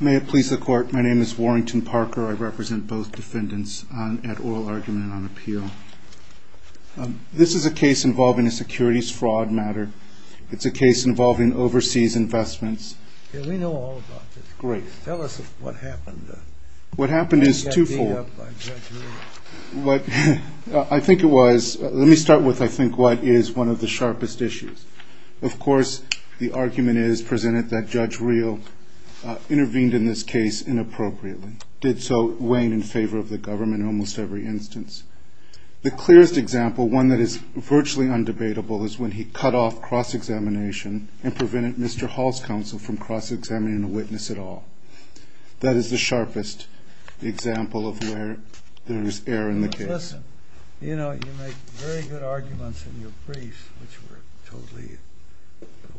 May it please the Court, my name is Warrington Parker. I represent both defendants at Oral Argument on Appeal. This is a case involving a securities fraud matter. It's a case involving overseas investments. We know all about this. Great. Tell us what happened. What happened is twofold. I think it was, let me start with I think what is one of the sharpest issues. Of course, the argument is presented that Judge Real intervened in this case inappropriately. Did so weighing in favor of the government in almost every instance. The clearest example, one that is virtually undebatable, is when he cut off cross-examination and prevented Mr. Hall's counsel from cross-examining a witness at all. That is the sharpest example of where there is error in the case. Listen, you know, you make very good arguments in your briefs, which we're totally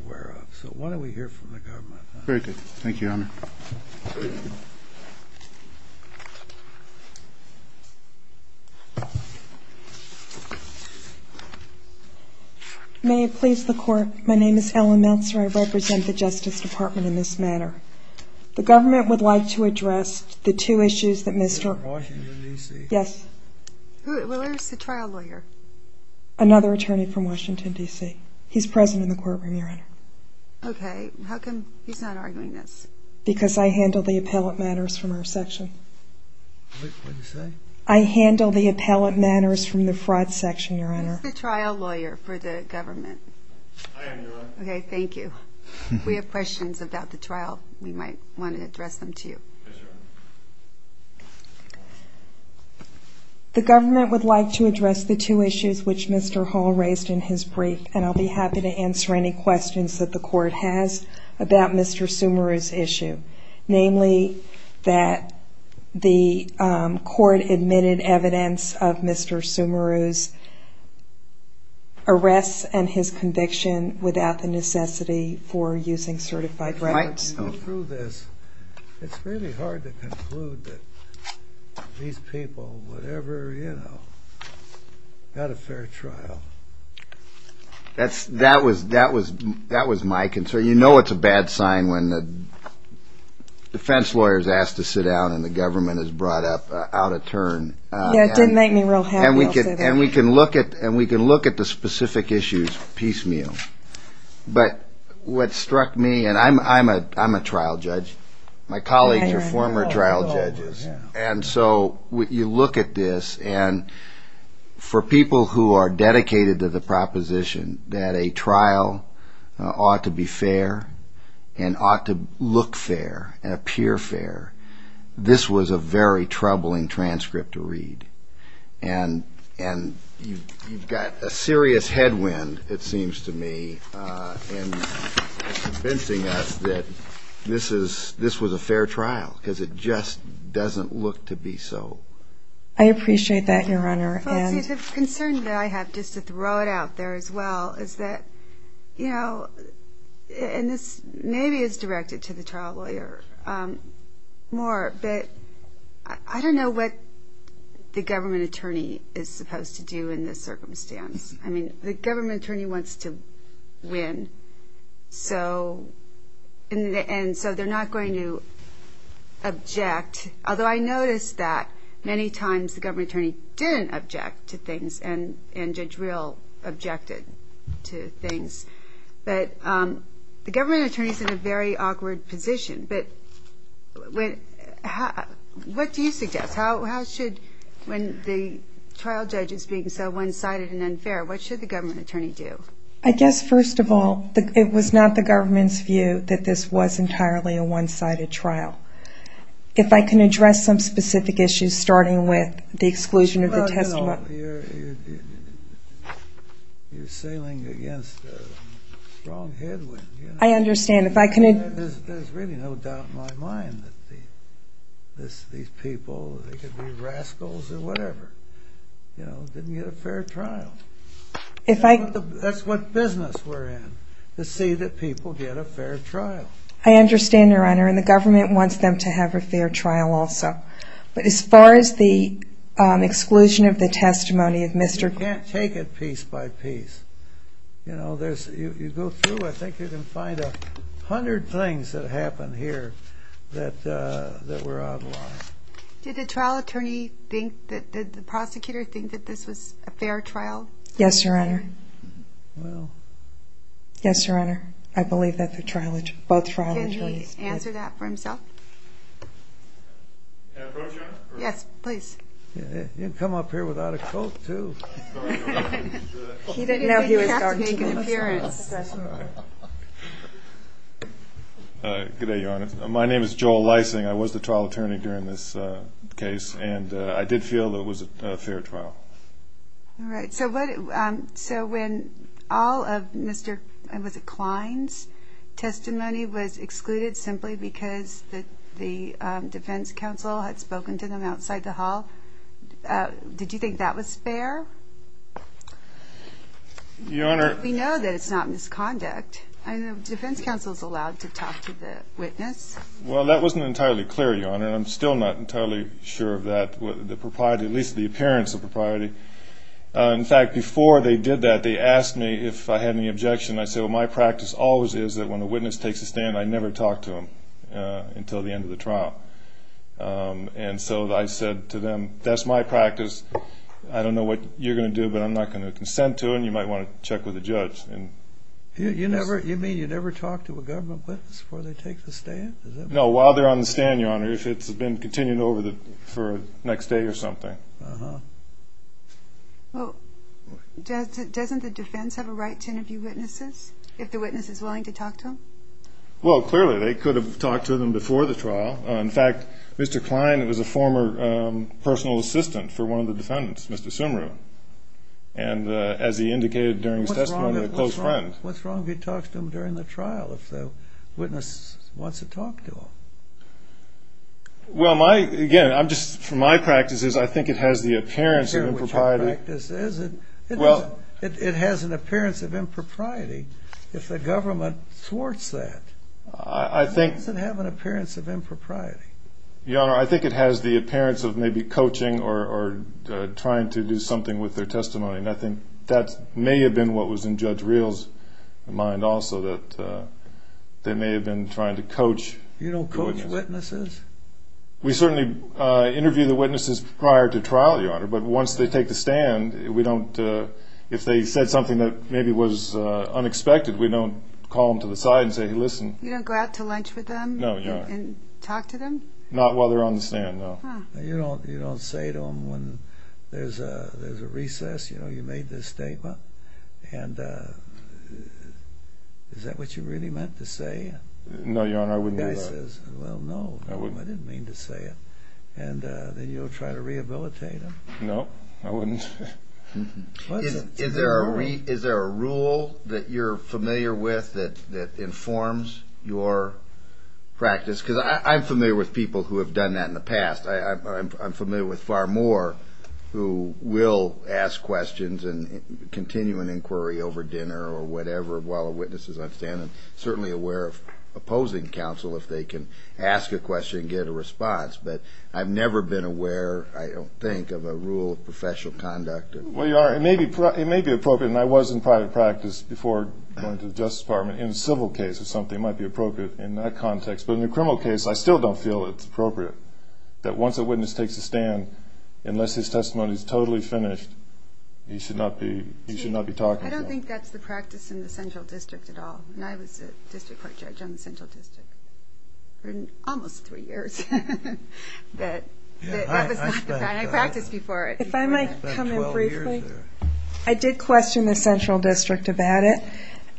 aware of. So why don't we hear from the government? Very good. Thank you, Your Honor. May it please the Court, my name is Ellen Meltzer. I represent the Justice Department in this matter. The government would like to address the two issues that Mr. Yes. Where is the trial lawyer? Another attorney from Washington, D.C. He's present in the courtroom, Your Honor. Okay. How come he's not arguing this? Because I handle the appellate matters from our section. What did you say? I handle the appellate matters from the fraud section, Your Honor. Who is the trial lawyer for the government? I am, Your Honor. Okay, thank you. We have questions about the trial. We might want to address them to you. Yes, Your Honor. The government would like to address the two issues which Mr. Hall raised in his brief, and I'll be happy to answer any questions that the Court has about Mr. Sumaru's issue, namely that the Court admitted evidence of Mr. Sumaru's arrests and his conviction without the necessity for using certified records. Mike. Through this, it's really hard to conclude that these people would ever, you know, have a fair trial. That was my concern. You know it's a bad sign when the defense lawyer is asked to sit down and the government is brought out of turn. Yeah, it didn't make me real happy. And we can look at the specific issues piecemeal. But what struck me, and I'm a trial judge. My colleagues are former trial judges. And so you look at this, and for people who are dedicated to the proposition that a trial ought to be fair and ought to look fair and appear fair, this was a very troubling transcript to read. And you've got a serious headwind, it seems to me, in convincing us that this was a fair trial because it just doesn't look to be so. I appreciate that, Your Honor. The concern that I have, just to throw it out there as well, is that, you know, and this maybe is directed to the trial lawyer more, but I don't know what the government attorney is supposed to do in this circumstance. I mean, the government attorney wants to win, and so they're not going to object. Although I noticed that many times the government attorney didn't object to things and Judge Real objected to things. But the government attorney is in a very awkward position. But what do you suggest? How should, when the trial judge is being so one-sided and unfair, what should the government attorney do? I guess, first of all, it was not the government's view that this was entirely a one-sided trial. If I can address some specific issues, starting with the exclusion of the testimony. You're sailing against a strong headwind. I understand. There's really no doubt in my mind that these people, they could be rascals or whatever, didn't get a fair trial. That's what business we're in, to see that people get a fair trial. I understand, Your Honor, and the government wants them to have a fair trial also. But as far as the exclusion of the testimony of Mr. You can't take it piece by piece. You go through, I think you can find a hundred things that happened here that were outlawed. Did the trial attorney think, did the prosecutor think that this was a fair trial? Yes, Your Honor. Well. Yes, Your Honor. I believe that both trial attorneys did. Can he answer that for himself? Can I approach you, Your Honor? Yes, please. You can come up here without a coat, too. He didn't think he had to make an appearance. Good day, Your Honor. My name is Joel Leising. I was the trial attorney during this case, and I did feel that it was a fair trial. All right. So when all of Mr. Klein's testimony was excluded simply because the defense counsel had spoken to them outside the hall, did you think that was fair? Your Honor. We know that it's not misconduct. The defense counsel is allowed to talk to the witness. Well, that wasn't entirely clear, Your Honor, and I'm still not entirely sure of that, at least the appearance of propriety. In fact, before they did that, they asked me if I had any objection. I said, well, my practice always is that when a witness takes a stand, I never talk to them until the end of the trial. And so I said to them, that's my practice. I don't know what you're going to do, but I'm not going to consent to it, and you might want to check with the judge. You mean you never talk to a government witness before they take the stand? No, while they're on the stand, Your Honor, if it's been continued over for the next day or something. Uh-huh. Well, doesn't the defense have a right to interview witnesses if the witness is willing to talk to them? Well, clearly, they could have talked to them before the trial. In fact, Mr. Klein was a former personal assistant for one of the defendants, Mr. Sumru. And as he indicated during his testimony, a close friend. What's wrong if he talks to them during the trial if the witness wants to talk to them? Well, again, from my practices, I think it has the appearance of impropriety. Well, it has an appearance of impropriety if the government thwarts that. Why does it have an appearance of impropriety? Your Honor, I think it has the appearance of maybe coaching or trying to do something with their testimony. And I think that may have been what was in Judge Real's mind also, that they may have been trying to coach. You don't coach witnesses? We certainly interview the witnesses prior to trial, Your Honor. But once they take the stand, we don't, if they said something that maybe was unexpected, we don't call them to the side and say, hey, listen. You don't go out to lunch with them? No, Your Honor. And talk to them? Not while they're on the stand, no. You don't say to them when there's a recess, you know, you made this statement, and is that what you really meant to say? No, Your Honor, I wouldn't do that. The guy says, well, no, I didn't mean to say it. And then you'll try to rehabilitate him? No, I wouldn't. Is there a rule that you're familiar with that informs your practice? Because I'm familiar with people who have done that in the past. I'm familiar with far more who will ask questions and continue an inquiry over dinner or whatever while a witness is on the stand. I'm certainly aware of opposing counsel if they can ask a question and get a response. But I've never been aware, I don't think, of a rule of professional conduct. Well, you are. It may be appropriate, and I was in private practice before going to the Justice Department. In a civil case or something, it might be appropriate in that context. But in a criminal case, I still don't feel it's appropriate that once a witness takes a stand, unless his testimony is totally finished, he should not be talking. I don't think that's the practice in the Central District at all. And I was a district court judge on the Central District for almost three years. That was not the practice before it. If I might come in briefly. I did question the Central District about it.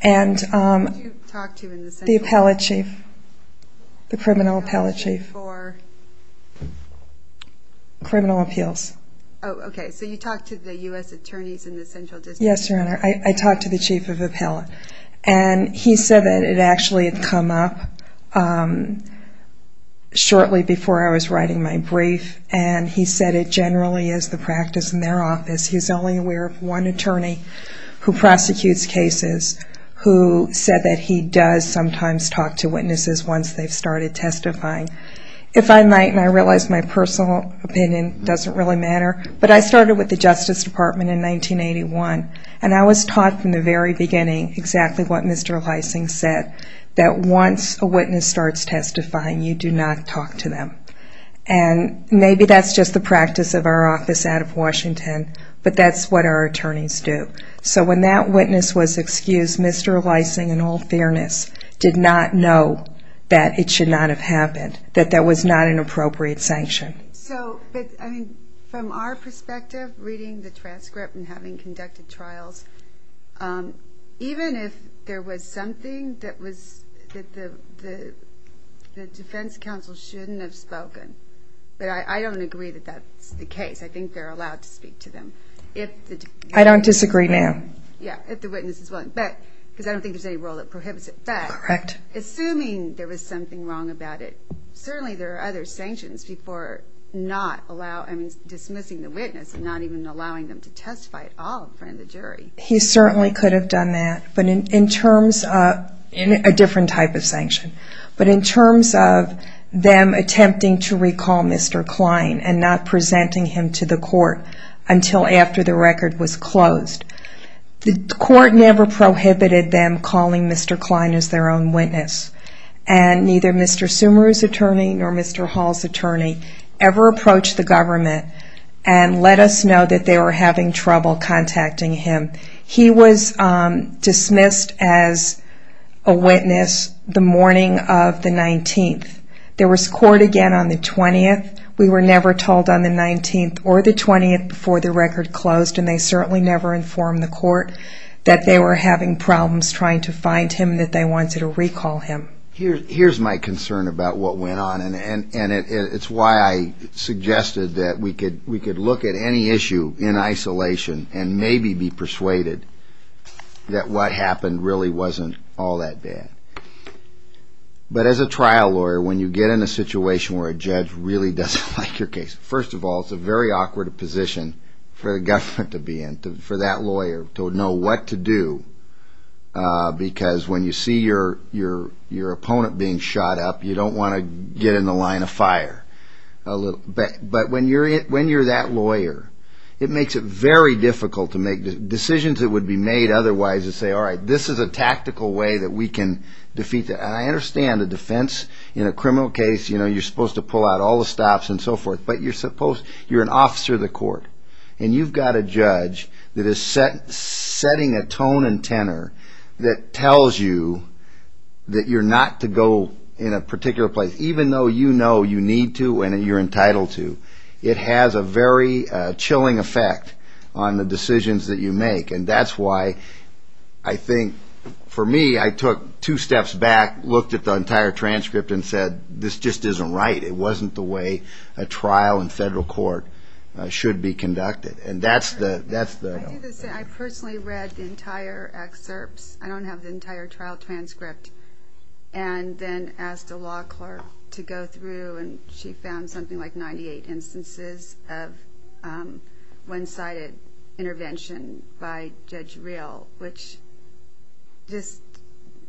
Who did you talk to in the Central District? The appellate chief. The criminal appellate chief. For? Criminal appeals. Oh, okay. So you talked to the U.S. attorneys in the Central District? Yes, Your Honor. I talked to the chief of appellate. And he said that it actually had come up shortly before I was writing my brief, and he said it generally is the practice in their office. He's only aware of one attorney who prosecutes cases who said that he does sometimes talk to witnesses once they've started testifying. If I might, and I realize my personal opinion doesn't really matter, but I started with the Justice Department in 1981, and I was taught from the very beginning exactly what Mr. Leising said, that once a witness starts testifying, you do not talk to them. And maybe that's just the practice of our office out of Washington, but that's what our attorneys do. So when that witness was excused, Mr. Leising, in all fairness, did not know that it should not have happened, that there was not an appropriate sanction. From our perspective, reading the transcript and having conducted trials, even if there was something that the defense counsel shouldn't have spoken, but I don't agree that that's the case. I think they're allowed to speak to them. I don't disagree, ma'am. Yeah, if the witness is willing. Because I don't think there's any rule that prohibits it. Correct. Assuming there was something wrong about it, certainly there are other sanctions before dismissing the witness and not even allowing them to testify at all in front of the jury. He certainly could have done that, but in terms of a different type of sanction. But in terms of them attempting to recall Mr. Klein and not presenting him to the court until after the record was closed, the court never prohibited them calling Mr. Klein as their own witness. And neither Mr. Sumeru's attorney nor Mr. Hall's attorney ever approached the government and let us know that they were having trouble contacting him. He was dismissed as a witness the morning of the 19th. There was court again on the 20th. We were never told on the 19th or the 20th before the record closed, and they certainly never informed the court that they were having problems trying to find him, that they wanted to recall him. Here's my concern about what went on. And it's why I suggested that we could look at any issue in isolation and maybe be persuaded that what happened really wasn't all that bad. But as a trial lawyer, when you get in a situation where a judge really doesn't like your case, first of all, it's a very awkward position for the government to be in, for that lawyer to know what to do, because when you see your opponent being shot up, you don't want to get in the line of fire. But when you're that lawyer, it makes it very difficult to make decisions that would be made otherwise and say, all right, this is a tactical way that we can defeat them. And I understand the defense in a criminal case, you're supposed to pull out all the stops and so forth, but you're an officer of the court, and you've got a judge that is setting a tone and tenor that tells you that you're not to go in a particular place, even though you know you need to and you're entitled to. It has a very chilling effect on the decisions that you make. And that's why I think, for me, I took two steps back, looked at the entire transcript and said, this just isn't right. It wasn't the way a trial in federal court should be conducted. I personally read the entire excerpts. I don't have the entire trial transcript. And then asked a law clerk to go through, and she found something like 98 instances of one-sided intervention by Judge Reel, which just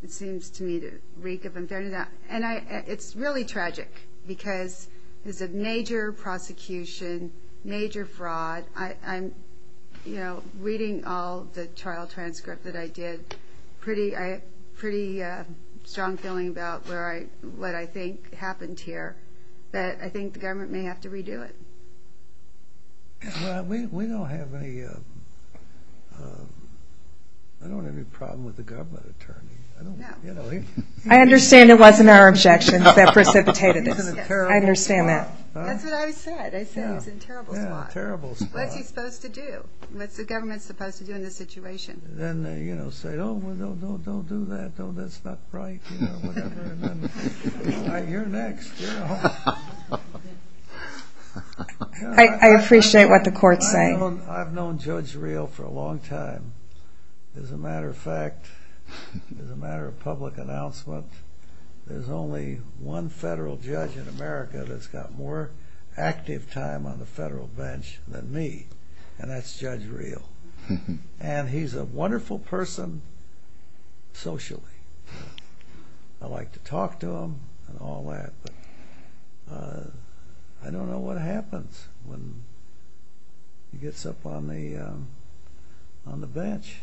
seems to me to reek of unfairness. And it's really tragic, because there's a major prosecution, major fraud. But I'm reading all the trial transcript that I did. I have a pretty strong feeling about what I think happened here. But I think the government may have to redo it. We don't have any problem with the government attorney. I understand it wasn't our objections that precipitated this. I understand that. That's what I said. I said he was in a terrible spot. Yeah, a terrible spot. What's he supposed to do? What's the government supposed to do in this situation? Then, you know, say, oh, don't do that. Oh, that's not right. You know, whatever. And then, you're next. I appreciate what the court's saying. I've known Judge Reel for a long time. As a matter of fact, as a matter of public announcement, there's only one federal judge in America that's got more active time on the federal bench than me, and that's Judge Reel. And he's a wonderful person socially. I like to talk to him and all that, but I don't know what happens when he gets up on the bench.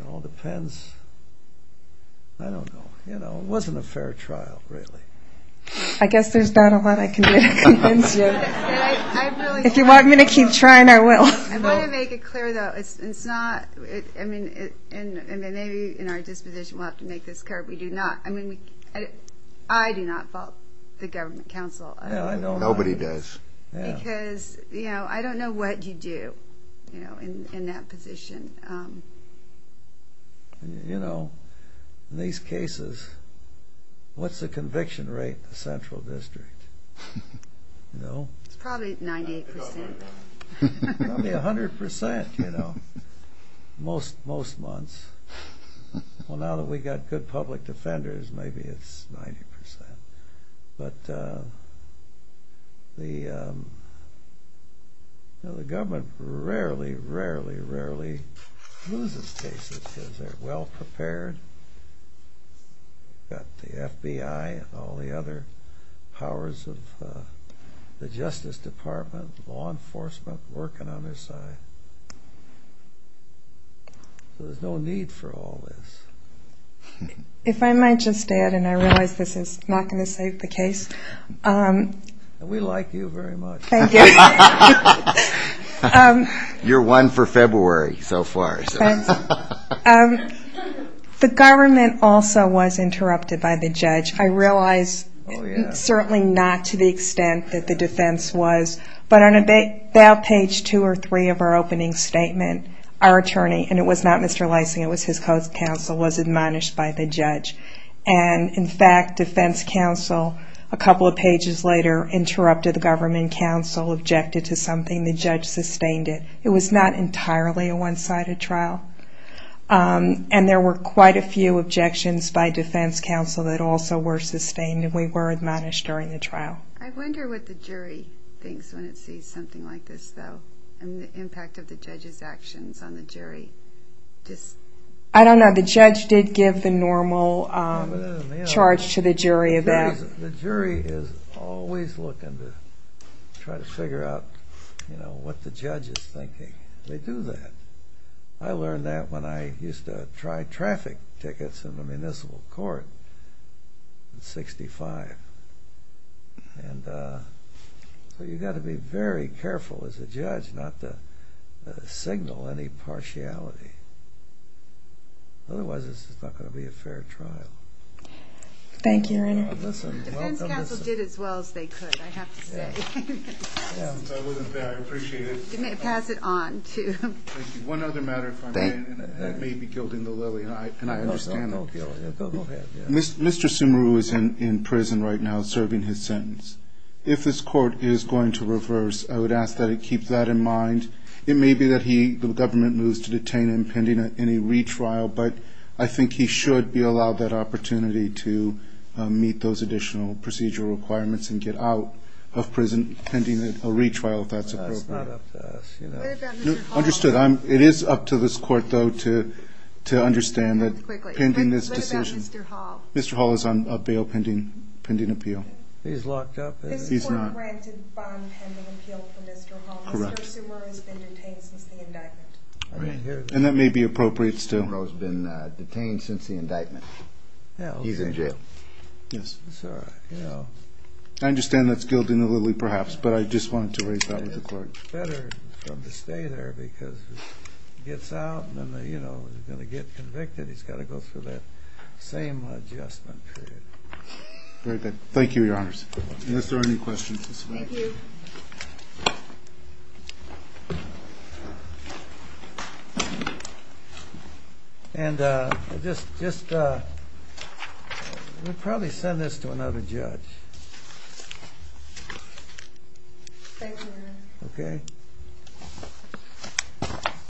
It all depends. I don't know. You know, it wasn't a fair trial, really. I guess there's not a lot I can do to convince you. If you want me to keep trying, I will. I want to make it clear, though, it's not, I mean, and maybe in our disposition we'll have to make this clear, we do not, I mean, I do not fault the government counsel. Nobody does. Because, you know, I don't know what you do in that position. You know, in these cases, what's the conviction rate in the Central District? No? It's probably 98%. Probably 100%, you know, most months. Well, now that we've got good public defenders, maybe it's 90%. But the government rarely, rarely, rarely loses cases because they're well-prepared. You've got the FBI and all the other powers of the Justice Department, law enforcement working on their side. So there's no need for all this. If I might just add, and I realize this is not going to save the case. We like you very much. Thank you. You're one for February so far. Thanks. The government also was interrupted by the judge. I realize certainly not to the extent that the defense was, but on about page two or three of our opening statement, our attorney, and it was not Mr. Leising, it was his co-counsel, was admonished by the judge. And, in fact, defense counsel, a couple of pages later, interrupted the government counsel, objected to something. The judge sustained it. It was not entirely a one-sided trial. And there were quite a few objections by defense counsel that also were sustained, and we were admonished during the trial. I wonder what the jury thinks when it sees something like this, though, and the impact of the judge's actions on the jury. I don't know. The judge did give the normal charge to the jury. The jury is always looking to try to figure out what the judge is thinking. They do that. I learned that when I used to try traffic tickets in the municipal court in 1965. And so you've got to be very careful as a judge not to signal any partiality. Otherwise, this is not going to be a fair trial. Thank you, Your Honor. Defense counsel did as well as they could, I have to say. I wasn't there. I appreciate it. Pass it on. Thank you. One other matter, if I may, that may be gilding the lily, and I understand it. Go ahead. Mr. Sumaru is in prison right now serving his sentence. If this court is going to reverse, I would ask that it keep that in mind. It may be that the government moves to detain him pending any retrial, but I think he should be allowed that opportunity to meet those additional procedural requirements and get out of prison pending a retrial, if that's appropriate. That's not up to us. What about Mr. Hall? Understood. It is up to this court, though, to understand that pending this decision. Mr. Hall. Mr. Hall is on a bail pending appeal. He's locked up. He's not. This court granted bond pending appeal for Mr. Hall. Correct. Mr. Sumaru has been detained since the indictment. I didn't hear that. And that may be appropriate still. Mr. Sumaru has been detained since the indictment. He's in jail. Yes. That's all right. I understand that's gilding the lily, perhaps, but I just wanted to raise that with the clerk. It's better for him to stay there because he gets out and, you know, when he's going to get convicted, he's got to go through that same adjustment period. Great. Thank you, Your Honors. Unless there are any questions. Thank you. And just, we'll probably send this to another judge. Thank you, Your Honor. Okay.